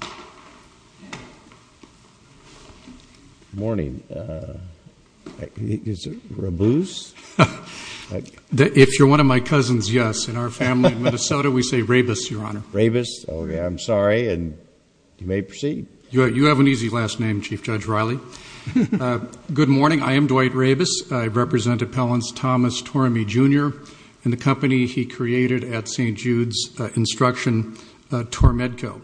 Good morning. Is it Raboose? If you're one of my cousins, yes. In our family in Minnesota, we say Raboose, Your Honor. Raboose. Oh, yeah. I'm sorry. And you may proceed. You have an easy last name, Chief Judge Riley. Good morning. I am Dwight Raboose. I represent Appellants Thomas Tormey, Jr. and the company he created at St. Jude's Instruction, Tormedco.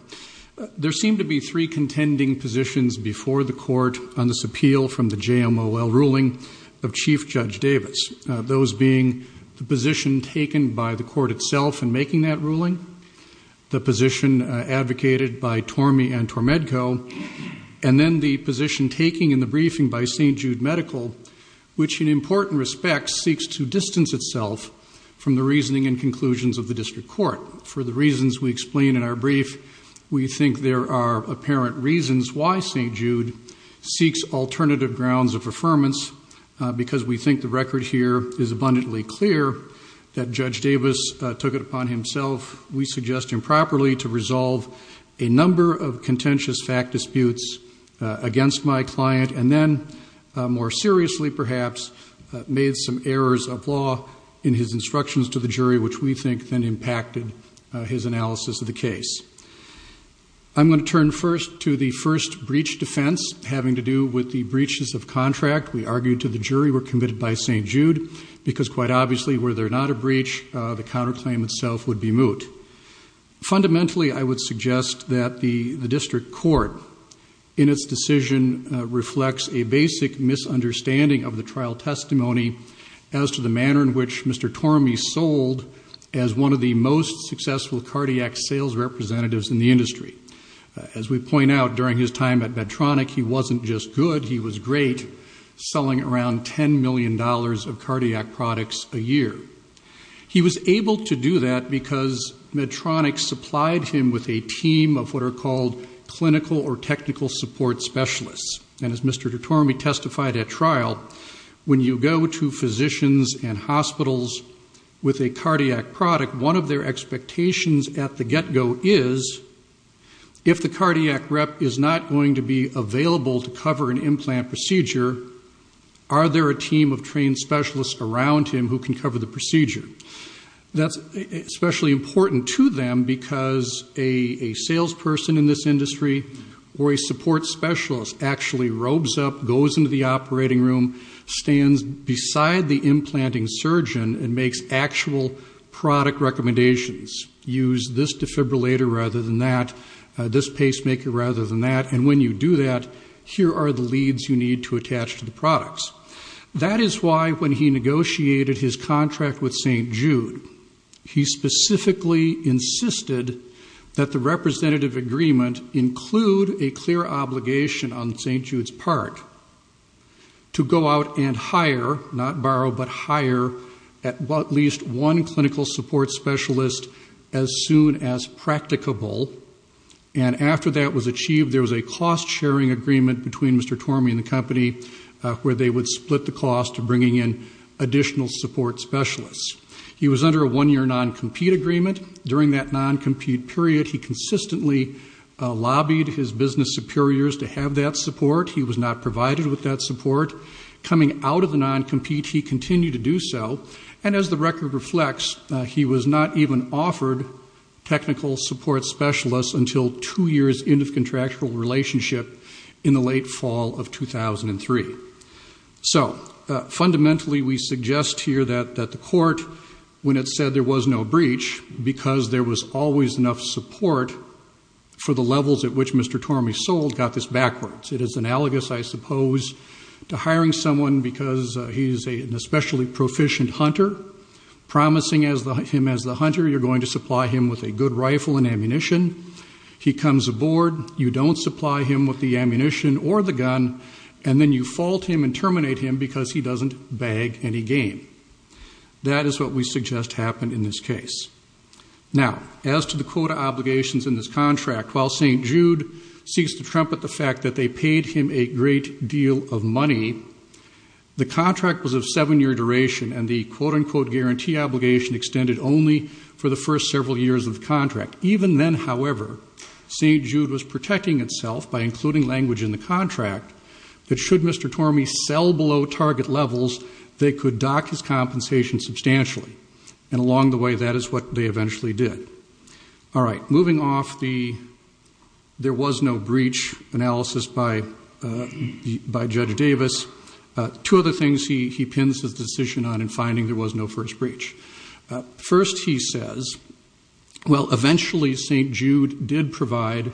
There seem to be three contending positions before the Court on this appeal from the J. M. O. L. ruling of Chief Judge Davis, those being the position taken by the Court itself in making that ruling, the position advocated by Tormey and Tormedco, and then the position taken in the briefing by St. Jude Medical, which in important respects seeks to distance itself from the reasoning and conclusions of the District Court. For the reasons we explain in our brief, we think there are apparent reasons why St. Jude seeks alternative grounds of affirmance because we think the record here is abundantly clear that Judge Davis took it upon himself, we suggest improperly, to resolve a number of contentious fact disputes against my client, and then, more seriously perhaps, made some errors of law in his instructions to the jury, which we think then impacted his analysis of the case. I'm going to turn first to the first breach defense having to do with the breaches of contract. We argued to the jury were committed by St. Jude because quite obviously were there not a breach, the counterclaim itself would be moot. Fundamentally, I would suggest that the District Court in its decision reflects a basic misunderstanding of the trial testimony as to the manner in which Mr. Tormey sold as one of the most successful cardiac sales representatives in the industry. As we point out, during his time at Medtronic, he wasn't just good, he was great, selling around $10 million of cardiac products a year. He was able to do that because Medtronic supplied him with a team of what are called clinical or technical support specialists. As Mr. Tormey testified at trial, when you go to physicians and hospitals with a cardiac product, one of their expectations at the get-go is, if the cardiac rep is not going to be available to cover an implant procedure, are there a team of trained specialists around him who can cover the procedure? That's especially important to them because a salesperson in this industry or a support specialist actually robes up, goes into the operating room, stands beside the implanting surgeon and makes actual product recommendations. Use this defibrillator rather than that, this pacemaker rather than that, and when you do that, here are the leads you need to attach to the products. That is why when he negotiated his contract with St. Jude, he specifically insisted that the representative agreement include a clear obligation on St. Jude's part to go out and hire, not borrow, but hire at least one clinical support specialist as soon as practicable, and after that was achieved, there was a cost-sharing agreement between Mr. Tormey and the company where they would split the cost of bringing in additional support specialists. He was under a one-year non-compete agreement. During that non-compete period, he consistently lobbied his business superiors to have that support. He was not provided with that support. Coming out of the non-compete, he continued to do so, and as the record reflects, he was not even offered technical support specialists until two years into the contractual relationship in the late fall of 2003. So fundamentally, we suggest here that the court, when it said there was no breach, because there was always enough support for the levels at which Mr. Tormey sold, got this backwards. It is analogous, I suppose, to hiring someone because he is an especially proficient hunter, promising him as the hunter you're going to supply him with a good rifle and ammunition. He comes aboard, you don't supply him with the ammunition or the gun, and then you fault him and terminate him because he doesn't bag any game. That is what we suggest happened in this case. Now, as to the quota obligations in this contract, while St. Jude seeks to trumpet the fact that they paid him a great deal of money, the contract was of seven-year duration, and the quote-unquote guarantee obligation extended only for the first several years of the contract. Even then, however, St. Jude was protecting itself by including language in the contract that should Mr. Tormey sell below target levels, they could dock his compensation substantially. And along the way, that is what they eventually did. All right, moving off the there was no breach analysis by Judge Davis, two other things he pins his decision on in finding there was no first breach. First, he says, well, eventually St. Jude did provide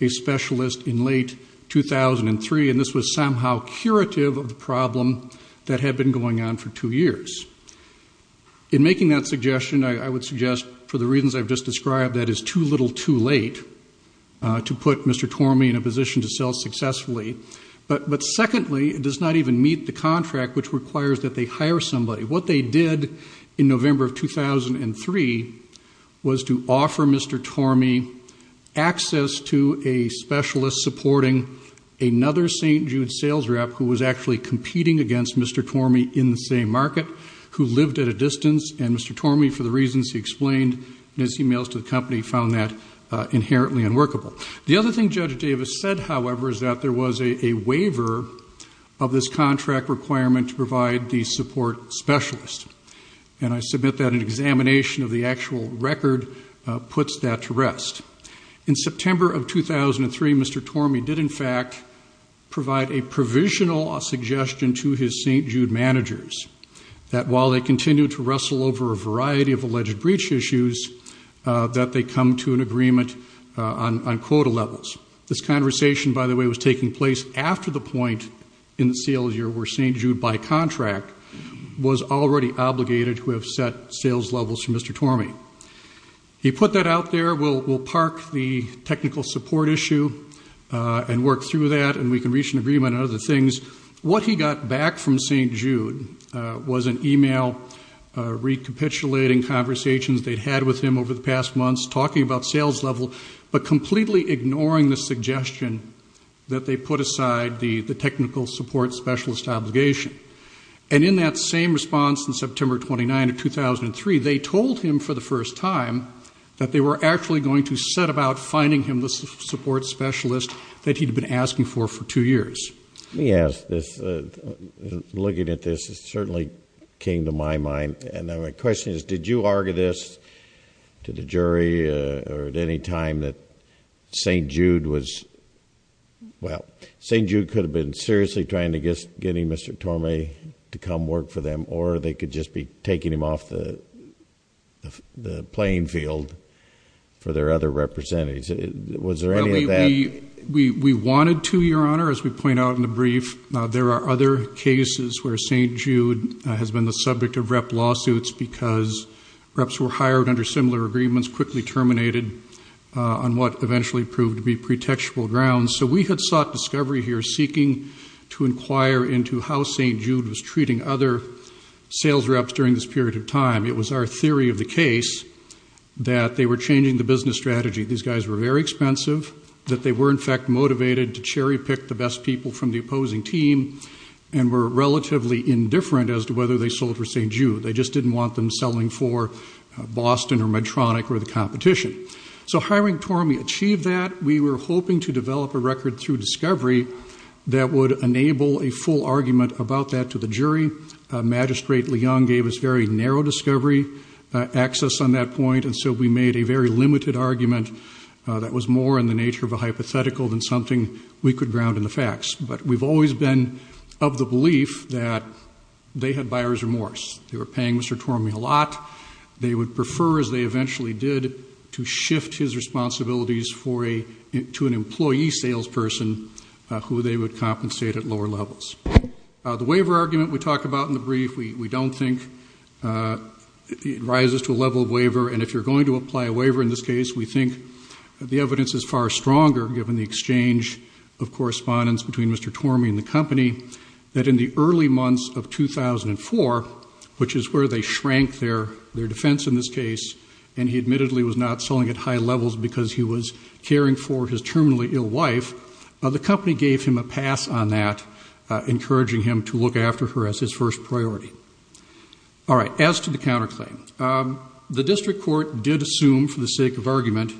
a specialist in late 2003, and this was somehow curative of the problem that had been going on for two years. In making that suggestion, I would suggest for the reasons I've just described, that is too little too late to put Mr. Tormey in a position to sell successfully. But secondly, it does not even meet the contract which requires that they hire somebody. What they did in November of 2003 was to offer Mr. Tormey access to a specialist supporting another St. Jude sales rep who was actually competing against Mr. Tormey in the same market, who lived at a distance, and Mr. Tormey, for the reasons he explained in his emails to the company, found that inherently unworkable. The other thing Judge Davis said, however, is that there was a waiver of this contract requirement to provide the support specialist. And I submit that an examination of the actual record puts that to rest. In September of 2003, Mr. Tormey did, in fact, provide a provisional suggestion to his St. Jude managers that while they continue to wrestle over a variety of quota levels, this conversation, by the way, was taking place after the point in the sales year where St. Jude, by contract, was already obligated to have set sales levels for Mr. Tormey. He put that out there. We'll park the technical support issue and work through that and we can reach an agreement on other things. What he got back from St. Jude was an email recapitulating conversations they'd had with him over the past months, talking about sales level, but completely ignoring the suggestion that they put aside the technical support specialist obligation. And in that same response in September of 2009 or 2003, they told him for the first time that they were actually going to set about finding him the support specialist that he'd been asking for for two years. Let me ask this. Looking at this, it certainly came to my mind. And my question is, did you argue this to the jury or at any time that St. Jude was, well, St. Jude could have been seriously trying to get Mr. Tormey to come work for them or they could just be taking him off the playing field for their other representatives. Was there any of that? We wanted to, Your Honor, as we point out in the brief. There are other cases where St. Jude has been the subject of rep lawsuits because reps were hired under similar agreements, quickly terminated on what eventually proved to be pretextual grounds. So we had sought discovery here seeking to inquire into how St. Jude was treating other sales reps during this period of time. It was our theory of the case that they were changing the business strategy. These guys were very expensive, that they were in fact motivated to cherry pick people from the opposing team and were relatively indifferent as to whether they sold for St. Jude. They just didn't want them selling for Boston or Medtronic or the competition. So hiring Tormey achieved that. We were hoping to develop a record through discovery that would enable a full argument about that to the jury. Magistrate Leung gave us very narrow discovery access on that point. And so we made a very limited argument that was more in the nature of a hypothetical than something we could ground in the facts. But we've always been of the belief that they had buyer's remorse. They were paying Mr. Tormey a lot. They would prefer, as they eventually did, to shift his responsibilities to an employee salesperson who they would compensate at lower levels. The waiver argument we talk about in the brief, we don't think it rises to a level of waiver. And if you're going to apply a waiver in this case, we think the evidence is far stronger, given the exchange of correspondence between Mr. Tormey and the company, that in the early months of 2004, which is where they shrank their defense in this case, and he admittedly was not selling at high levels because he was caring for his terminally ill wife, the company gave him a pass on that, encouraging him to look after her as his first priority. All right. As to the counterclaim, the district court did assume, for the sake of argument,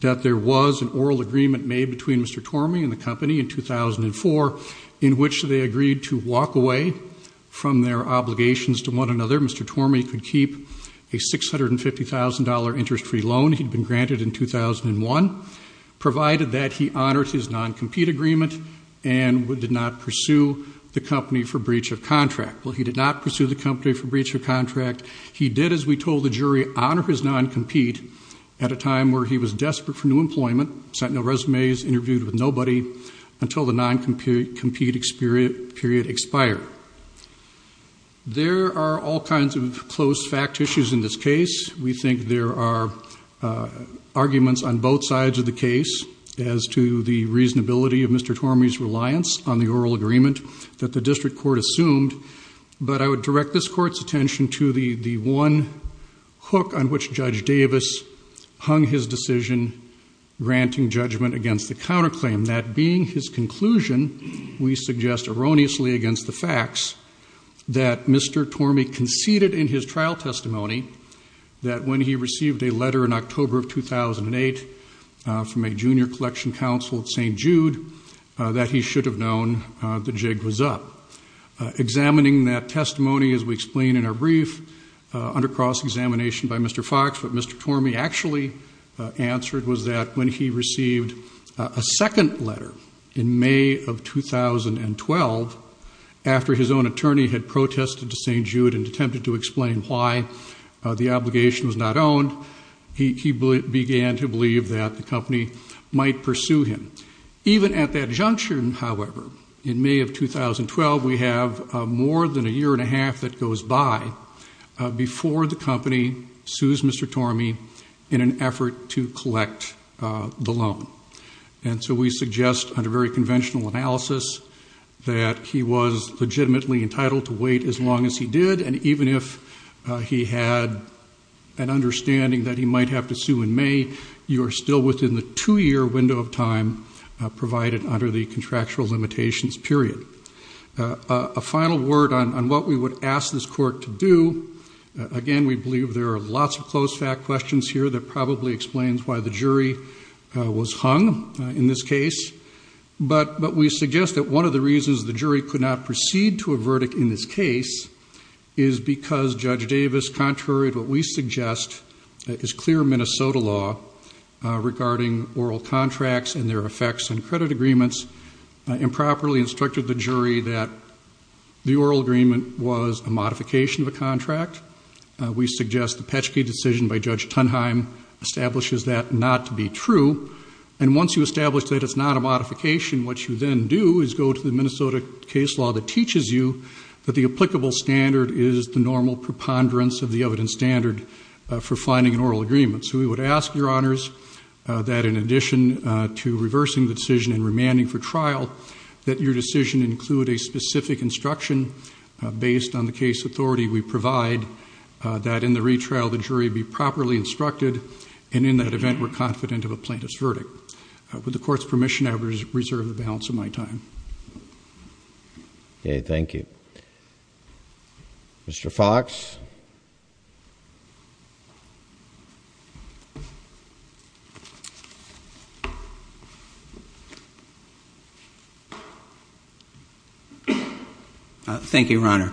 that there was an oral agreement made between Mr. Tormey and the company in 2004, in which they agreed to walk away from their obligations to one another. Mr. Tormey could keep a $650,000 interest-free loan he'd been granted in 2001, provided that he honored his non-compete agreement and did not pursue the company for breach of contract. Well, he did not pursue the company for breach of contract. He did, as we told the jury, honor his non-compete at a time where he was desperate for new employment, sent no resumes, interviewed with nobody, until the non-compete period expired. There are all kinds of close fact issues in this case. We think there are arguments on both sides of the case as to the reasonability of Mr. Tormey's reliance on the oral agreement that the district court assumed, but I would direct this court's attention to the one hook on which Judge Davis hung his decision granting judgment against the counterclaim. That being his conclusion, we suggest erroneously against the facts that Mr. Tormey conceded in his trial testimony that when he received a letter in October of 2008 from a junior collection counsel at St. Jude, that he should have known the jig was up. Examining that testimony, as we explain in our brief, under cross-examination by Mr. Fox, what Mr. Tormey actually answered was that when he received a second letter in May of 2012, after his own attorney had protested to St. Jude and attempted to explain why the obligation was not owned, he began to believe that the company might pursue him. Even at that juncture, however, in May of 2012, we have more than a year and a half that goes by before the company sues Mr. Tormey in an effort to collect the loan. And so we suggest under very conventional analysis that he was legitimately entitled to wait as long as he did, and even if he had an understanding that he might have to sue in May, you are still within the two-year window of time provided under the contractual limitations period. A final word on what we would ask this court to do. Again, we believe there are lots of close-fat questions here that probably explains why the jury was hung in this case. But we suggest that one of the contrary to what we suggest is clear Minnesota law regarding oral contracts and their effects in credit agreements improperly instructed the jury that the oral agreement was a modification of a contract. We suggest the Petschke decision by Judge Tunheim establishes that not to be true. And once you establish that it's not a modification, what you then do is go to the Minnesota case law that teaches you that the applicable standard is the normal preponderance of the evidence standard for finding an oral agreement. So we would ask, Your Honors, that in addition to reversing the decision and remanding for trial, that your decision include a specific instruction based on the case authority we provide that in the retrial the jury be properly instructed, and in that event we're confident of a plaintiff's verdict. With the Court's permission, I will reserve the balance of my time. Okay, thank you. Mr. Fox? Thank you, Your Honor.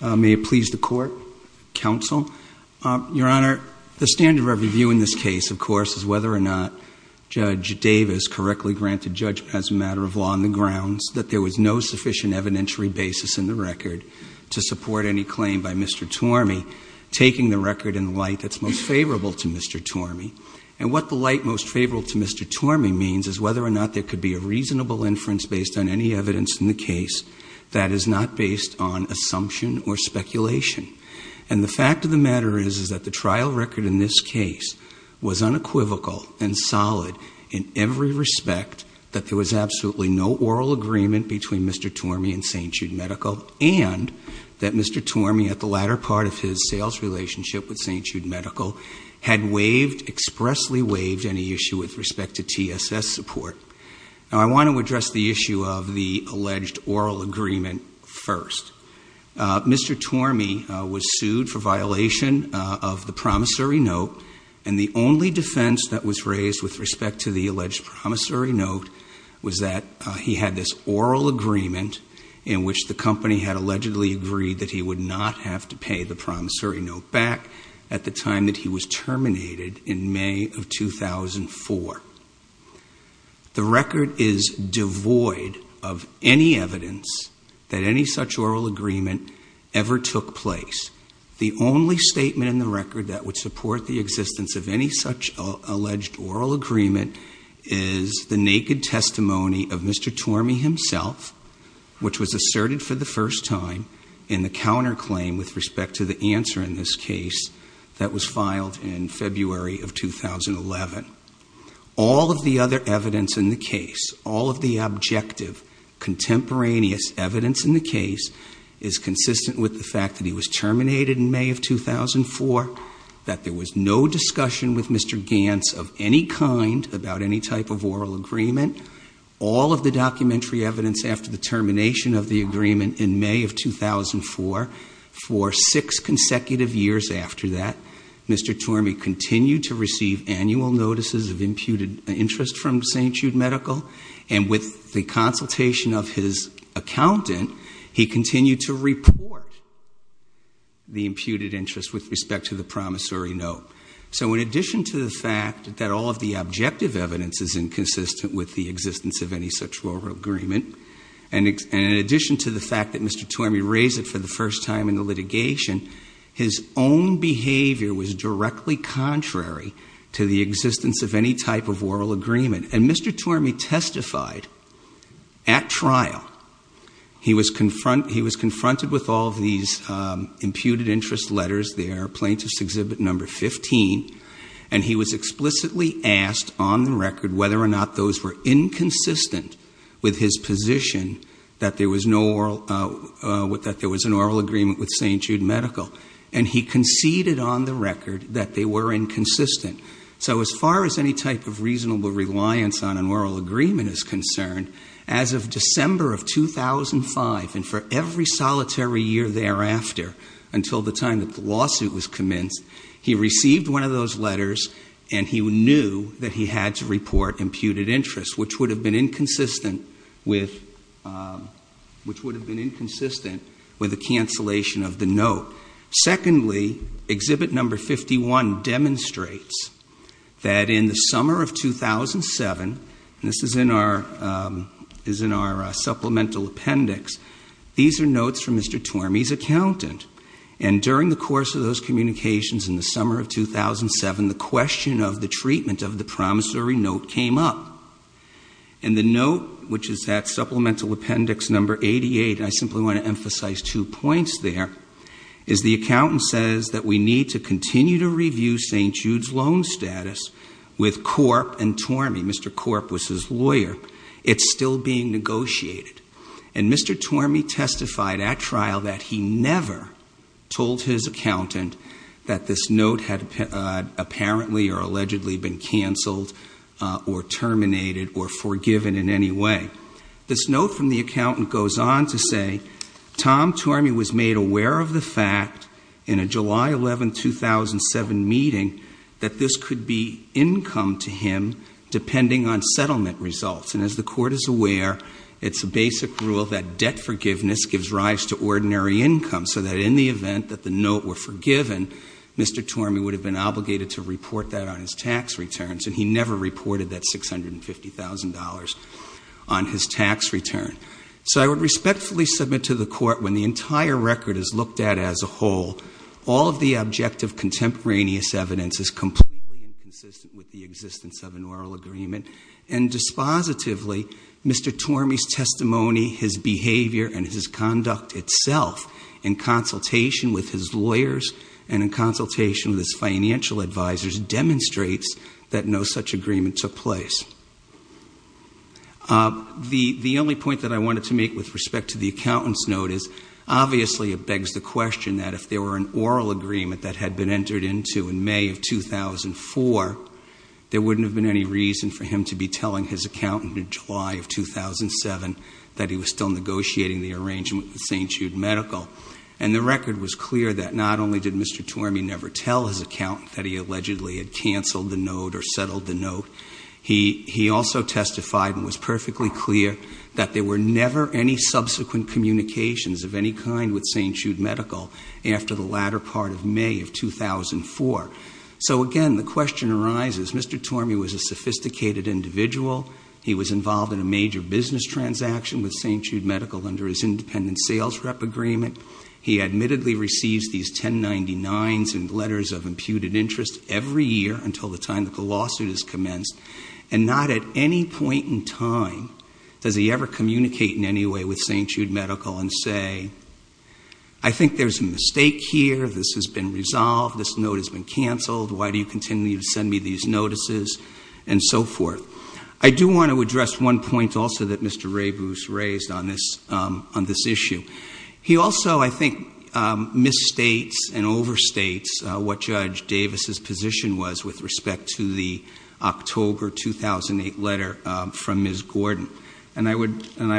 May it please the Court, Counsel. Your Honor, the standard of review in this case, of course, is whether or not Judge Davis correctly granted judgment as a matter of law on the grounds that there was no sufficient evidentiary basis in the record to support any claim by Mr. Tormey, taking the record in light that's most favorable to Mr. Tormey. And what the light most favorable to Mr. Tormey means is whether or not there could be a reasonable inference based on any evidence in the case that is not based on assumption or speculation. And the fact of the matter is, is that the trial record in this case was unequivocal and solid in every respect that there was absolutely no oral agreement between Mr. Tormey and St. Jude Medical, and that Mr. Tormey, at the latter part of his sales relationship with St. Jude Medical, had waived, expressly waived any issue with respect to TSS support. Now, I want to address the issue of the alleged oral agreement first. Mr. Tormey was sued for violation of the promissory note, and the only defense that was raised with respect to the alleged promissory note was that he had this oral agreement in which the company had allegedly agreed that he would not have to pay the promissory note back at the time that he was terminated in May of 2004. The record is that any such oral agreement ever took place. The only statement in the record that would support the existence of any such alleged oral agreement is the naked testimony of Mr. Tormey himself, which was asserted for the first time in the counterclaim with respect to the answer in this case that was filed in February of 2011. All of the other evidence in the case, all of the objective, contemporaneous evidence in the case is consistent with the fact that he was terminated in May of 2004, that there was no discussion with Mr. Gantz of any kind about any type of oral agreement. All of the documentary evidence after the termination of the agreement in May of 2004, for six consecutive years after that, Mr. Tormey continued to receive annual notices of imputed interest from St. Jude Medical, and with the consultation of his accountant, he continued to report the imputed interest with respect to the promissory note. So in addition to the fact that all of the objective evidence is inconsistent with the existence of any such oral agreement, and in addition to the fact that Mr. Tormey raised it for the first time in the litigation, his own behavior was directly contrary to the existence of any type of oral agreement. And Mr. Tormey testified at trial. He was confronted with all of these imputed interest letters there, Plaintiff's Exhibit No. 15, and he was explicitly asked on the record whether or not those were inconsistent with his position that there was an oral agreement with St. Jude Medical, and he conceded on the record that they were inconsistent. So as far as any type of reasonable reliance on an oral agreement is concerned, as of December of 2005, and for every solitary year thereafter until the time that the lawsuit was commenced, he received one of those letters, and he knew that he had to report imputed interest, which would have been inconsistent with the cancellation of the note. Secondly, Exhibit No. 51 demonstrates that in the summer of 2007, and this is in our supplemental appendix, these are notes from Mr. Tormey's accountant, and during the course of those communications in the summer of 2007, the question of the treatment of the promissory note came up, and the note, which is that supplemental appendix No. 88, and I simply want to emphasize two points there, is the accountant says that we need to continue to review St. Jude's loan status with Corp and Tormey. Mr. Corp was his lawyer. It's still being negotiated, and Mr. Tormey testified at trial that he never told his accountant that this note had apparently or allegedly been canceled or terminated or forgiven in any way. This note from the accountant goes on to say, Tom Tormey was made aware of the fact in a July 11, 2007 meeting that this could be income to him depending on settlement results, and as the Court is aware, it's a basic rule that debt forgiveness gives rise to ordinary income, so that in the event that the note were forgiven, Mr. Tormey would have been obligated to report that on his tax returns, and he never reported that $650,000 on his tax return. So I would respectfully submit to the Court, when the entire record is looked at as a whole, all of the objective contemporaneous evidence is completely inconsistent with the existence of an oral agreement, and dispositively, Mr. Tormey's testimony, his behavior, and his conduct itself in consultation with his lawyers and in consultation with his financial advisors demonstrates that no such agreement took place. The only point that I wanted to make with respect to the accountant's note is, obviously it begs the question that if there were an oral agreement that had been entered into in May of 2004, there wouldn't have been any reason for him to be telling his accountant in July of 2007 that he was still negotiating the arrangement with St. Jude Medical. And the record was clear that not only did Mr. Tormey never tell his accountant that he allegedly had canceled the note or settled the note, he also testified and was perfectly clear that there were never any subsequent communications of any kind with St. Jude Medical after the latter part of May of 2004. So again, the question arises, Mr. Tormey was a sophisticated individual, he was involved in a major business transaction with St. Jude Medical under his independent sales rep agreement, he admittedly receives these 1099s and letters of imputed interest every year until the time that the lawsuit is commenced, and not at any point in time does he ever communicate in any way with St. Jude Medical and say, I think there's a mistake here, this has been resolved, this note has been canceled, why do you continue to send me these notices, and so forth. I do want to address one point also that Mr. Rebus raised on this issue. He also, I think, misstates and overstates what Judge Davis's position was with respect to the October 2008 letter from Ms. Gordon. And I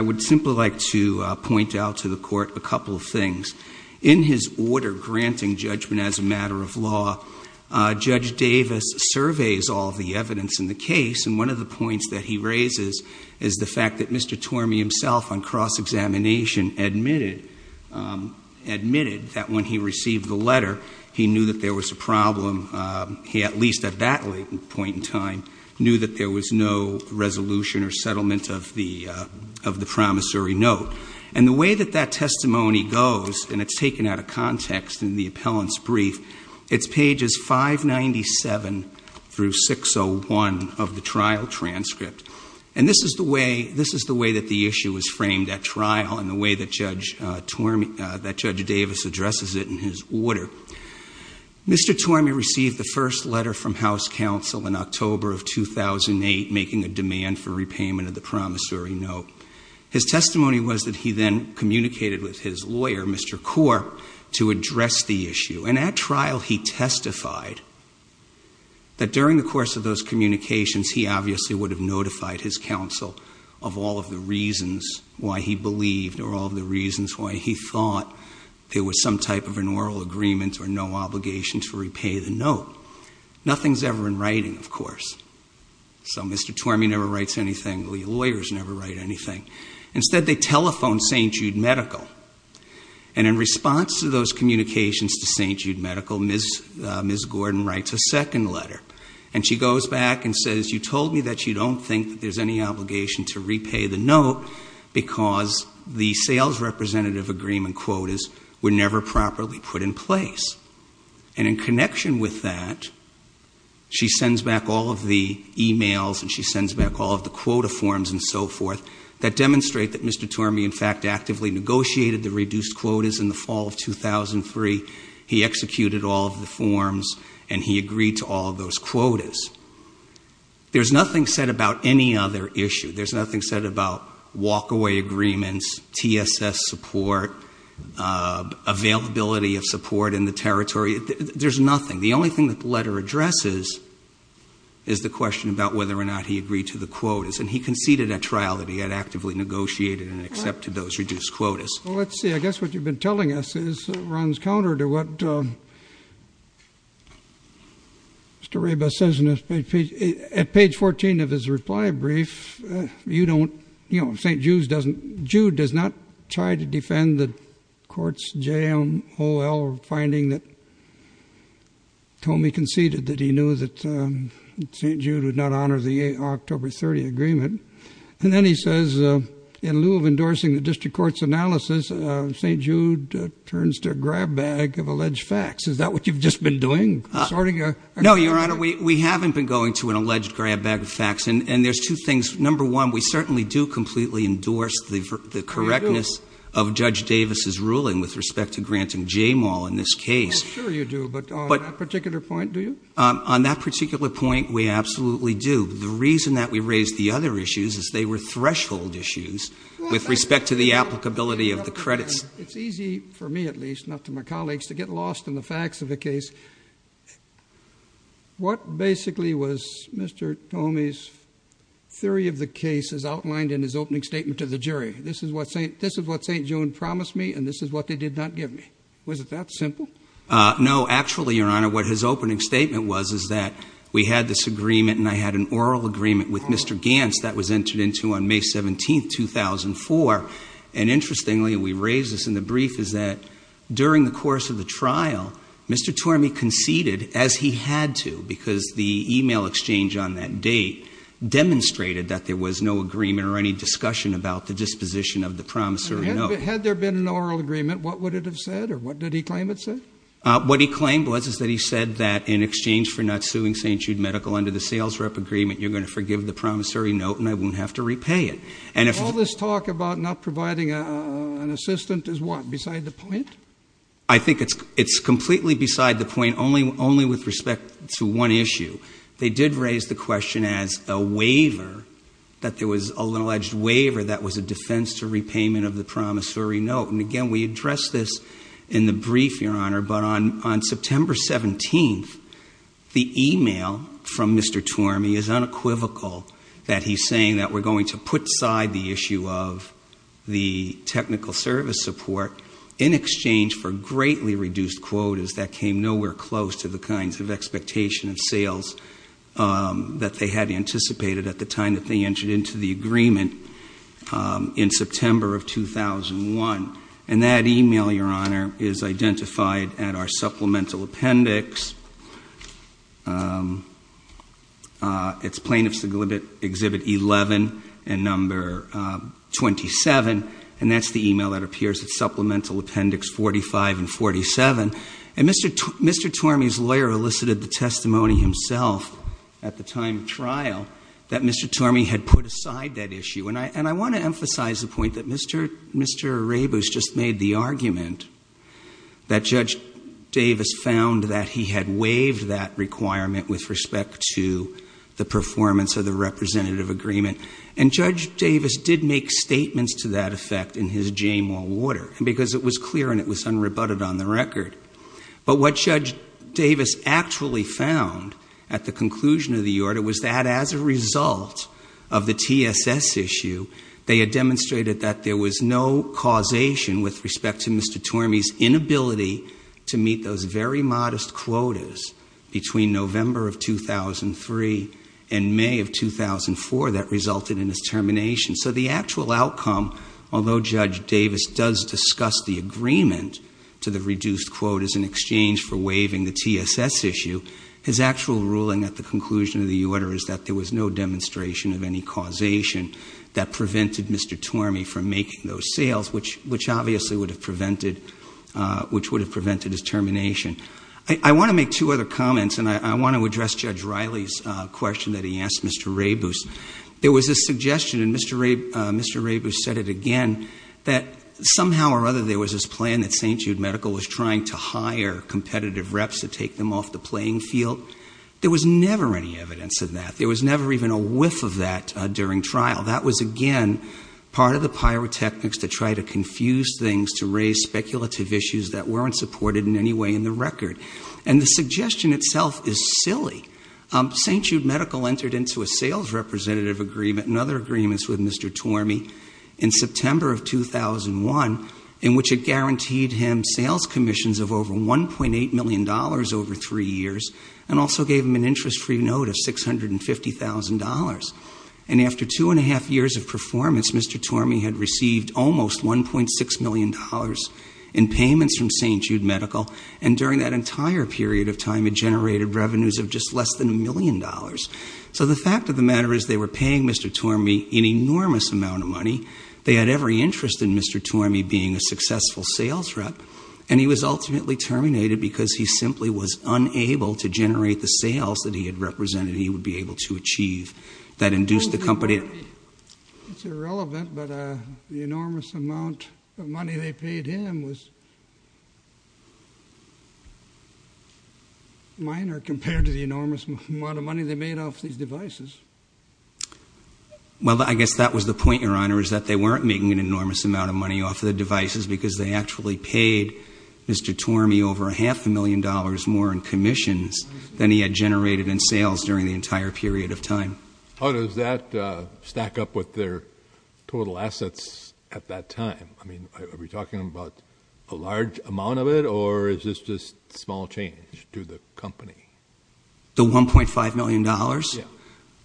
would simply like to point out to the Court a couple of things. In his order granting judgment as a matter of law, Judge Davis surveys all the evidence in the case, and one of the points that he raises is the fact that Mr. Tormey himself on cross-examination admitted that when he received the letter, he knew that there was a problem, he at least at that point in time knew that there was no resolution or settlement of the promissory note. And the way that that testimony goes, and it's taken out of context in the appellant's brief, it's pages 597 through 601 of the trial transcript. And this is the way that the issue was framed at trial and the way that Judge Davis addresses it in his order. Mr. Tormey received the first letter from House Counsel in October of 2008 making a demand for repayment of the promissory note. His testimony was that he then communicated with his lawyer, Mr. Corr, to address the issue. And at trial he testified that during the course of those communications he obviously would have notified his counsel of all of the reasons why he believed or all of the reasons why he thought there was some type of an oral agreement or no obligation to repay the note. Nothing's ever in writing, of course. So Mr. Tormey never writes anything, the lawyers never write anything. Instead they telephone St. Jude Medical. And in response to those communications to St. Jude Medical, Ms. Gordon writes a second letter. And she goes back and says, you told me that you don't think that there's any obligation to repay the note because the sales representative agreement quotas were never properly put in place. And in connection with that, she sends back all of the e-mails and she sends back all of the so forth that demonstrate that Mr. Tormey, in fact, actively negotiated the reduced quotas in the fall of 2003. He executed all of the forms and he agreed to all of those quotas. There's nothing said about any other issue. There's nothing said about walk-away agreements, TSS support, availability of support in the territory. There's nothing. The only thing that the letter addresses is the question about whether or not he agreed to the quotas. And he conceded at trial that he had actively negotiated and accepted those reduced quotas. Well, let's see. I guess what you've been telling us is runs counter to what Mr. Raybus says in page 14 of his reply brief. You don't, you know, St. Jude does not try to defend the courts, jail, O.L. finding that Tormey conceded that he knew that St. Jude would not honor the October 30 agreement. And then he says, in lieu of endorsing the district court's analysis, St. Jude turns to a grab bag of alleged facts. Is that what you've just been doing? Sorting a... No, Your Honor. We haven't been going to an alleged grab bag of facts. And there's two things. Number one, we certainly do completely endorse the correctness of Judge Davis's ruling with respect to granting J-Mall in this case. Well, sure you do. But on that particular point, do you? On that particular point, we absolutely do. The reason that we raised the other issues is they were threshold issues with respect to the applicability of the credits. It's easy, for me at least, not to my colleagues, to get lost in the facts of the case. What basically was Mr. Tormey's theory of the case as outlined in his opening statement to the jury? This is what St. Jude promised me and this is what they did not give me. Was it that simple? No. Actually, Your Honor, what his opening statement was is that we had this agreement and I had an oral agreement with Mr. Gantz that was entered into on May 17, 2004. And interestingly, we raised this in the brief, is that during the course of the trial, Mr. Tormey conceded as he had to because the email exchange on that date demonstrated that there was no agreement or any discussion about the disposition of the promissory note. Had there been an oral agreement, what would it have said or what did he claim it said? What he claimed was that he said that in exchange for not suing St. Jude Medical under the sales rep agreement, you're going to forgive the promissory note and I won't have to repay it. All this talk about not providing an assistant is what? Beside the point? I think it's completely beside the point only with respect to one issue. They did raise the question as a waiver, that there was an alleged waiver that was a defense to repayment of the promissory note. And again, we addressed this in the brief, Your Honor, but on September 17th, the email from Mr. Tormey is unequivocal that he's saying that we're going to put aside the issue of the technical service support in exchange for greatly reduced quotas that came nowhere close to the kinds of expectation of sales that they had anticipated at the time that they entered into the agreement in September of 2001. And that email, Your Honor, is identified at our supplemental appendix. It's plaintiffs exhibit 11 and number 27, and that's the email that appears at supplemental appendix 45 and 47. And Mr. Tormey's lawyer elicited the testimony himself at the time of trial that Mr. Tormey had put aside that issue. And I want to emphasize the point that Mr. Arrebus just made the argument that Judge Davis found that he had waived that requirement with respect to the performance of the representative agreement. And Judge Davis did make statements to that effect in his Jamal Water, because it was clear and it was unrebutted on the result of the TSS issue, they had demonstrated that there was no causation with respect to Mr. Tormey's inability to meet those very modest quotas between November of 2003 and May of 2004 that resulted in his termination. So the actual outcome, although Judge Davis does discuss the agreement to the reduced quotas in exchange for waiving the TSS issue, his actual ruling at the conclusion of the order is that there was no demonstration of any causation that prevented Mr. Tormey from making those sales, which obviously would have prevented his termination. I want to make two other comments, and I want to address Judge Riley's question that he asked Mr. Arrebus. There was a suggestion, and Mr. Arrebus said it again, that somehow or other there was this plan that St. Jude Medical was trying to hire competitive reps to take them off the playing field. There was never any evidence of that. There was never even a whiff of that during trial. That was, again, part of the pyrotechnics to try to confuse things, to raise speculative issues that weren't supported in any way in the record. And the suggestion itself is silly. St. Jude Medical entered into a sales representative agreement, another agreement with Mr. Tormey, in September of 2001, in which it guaranteed him sales commissions of over $1.8 million over three years, and also gave him an interest-free note of $650,000. And after two and a half years of performance, Mr. Tormey had received almost $1.6 million in payments from St. Jude Medical, and during that entire period of time had generated revenues of just less than a million dollars. So the fact of the matter is they were paying Mr. Tormey an enormous amount of money. They had every interest in Mr. Tormey being a successful sales rep, and he was ultimately terminated because he simply was unable to generate the sales that he had represented he would be able to achieve that induced the company to… It's irrelevant, but the enormous amount of money they paid him was minor compared to the enormous amount of money they made off these devices. Well, I guess that was the point, Your Honor, is that they weren't making an enormous amount of money off the devices because they actually paid Mr. Tormey over a half a million dollars more in commissions than he had generated in sales during the entire period of time. How does that stack up with their total assets at that time? I mean, are we talking about a large amount of it, or is this just small change to the company? The $1.5 million? Yeah.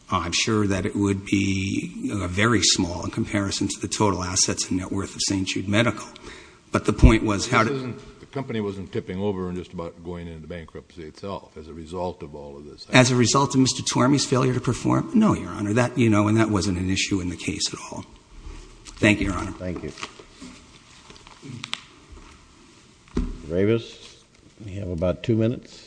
I'm sure that it would be very small in comparison to the total assets and net worth of St. Jude Medical, but the point was how… The company wasn't tipping over and just about going into bankruptcy itself as a result of all of this. As a result of Mr. Tormey's failure to perform? No, Your Honor, that, you know, and that wasn't an issue in the case at all. Thank you, Your Honor. Thank you. Mr. Davis, we have about two minutes.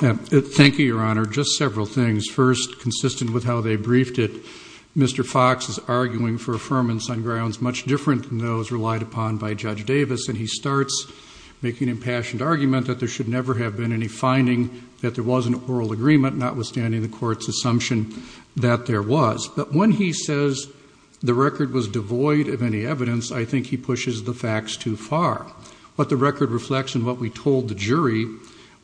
Thank you, Your Honor. Just several things. First, consistent with how they briefed it, Mr. Fox is arguing for affirmance on grounds much different than those relied upon by Judge Davis, and he starts making an impassioned argument that there should never have been any finding that there was an oral agreement, notwithstanding the court's assumption that there was. But when he says the record was devoid of any evidence, I think he pushes the facts too far. What the record reflects and what we told the jury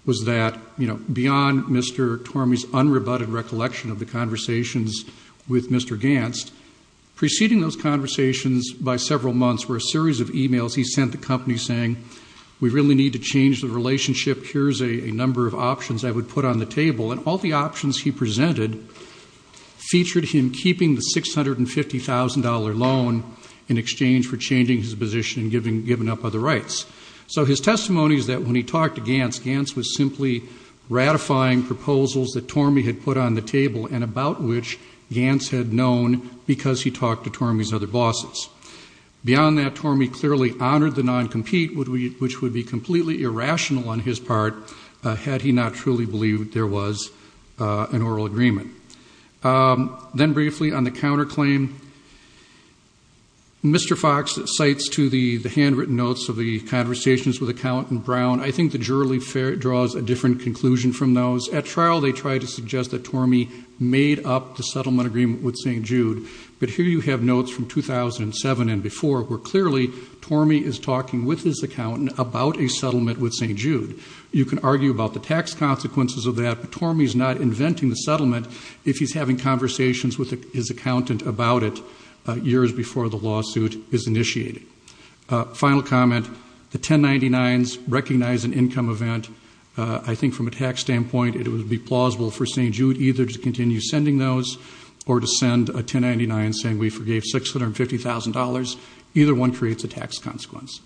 was that, you know, beyond Mr. Tormey's unrebutted recollection of the conversations with Mr. Ganst, preceding those conversations by several months were a series of emails he sent the company saying, we really need to change the relationship, here's a number of options I would put on the table, and all the options he presented featured him keeping the $650,000 loan in exchange for changing his position and giving up other rights. So his testimony is that when he talked to Ganst, Ganst was simply ratifying proposals that Tormey had put on the table and about which Ganst had known because he talked to Tormey's other bosses. Beyond that, Tormey clearly honored the noncompete, which would be completely irrational on his part had he not truly believed there was an oral agreement. Then briefly on the counterclaim, Mr. Fox cites to the handwritten notes of the conversations with Accountant Brown. I think the jury draws a different conclusion from those. At trial they tried to suggest that Tormey made up the settlement agreement with St. Jude, but here you have notes from 2007 and before where clearly Tormey is talking with his accountant about a settlement with St. Jude. You can argue about the tax consequences of that, but Tormey's not inventing the settlement if he's having conversations with his accountant about it years before the lawsuit is initiated. Final comment, the 1099s recognize an income event. I think from a tax standpoint it would be plausible for St. Jude either to continue sending those or to send a 1099 saying we forgave $650,000. Either one creates a tax consequence.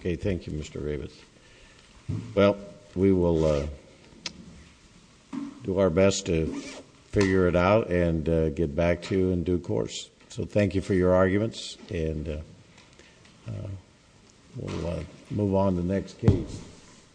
Okay, thank you, Mr. Ravitz. Well, we will do our best to figure it out and get back to you in due course. So thank you for your arguments and we'll move on to the next case.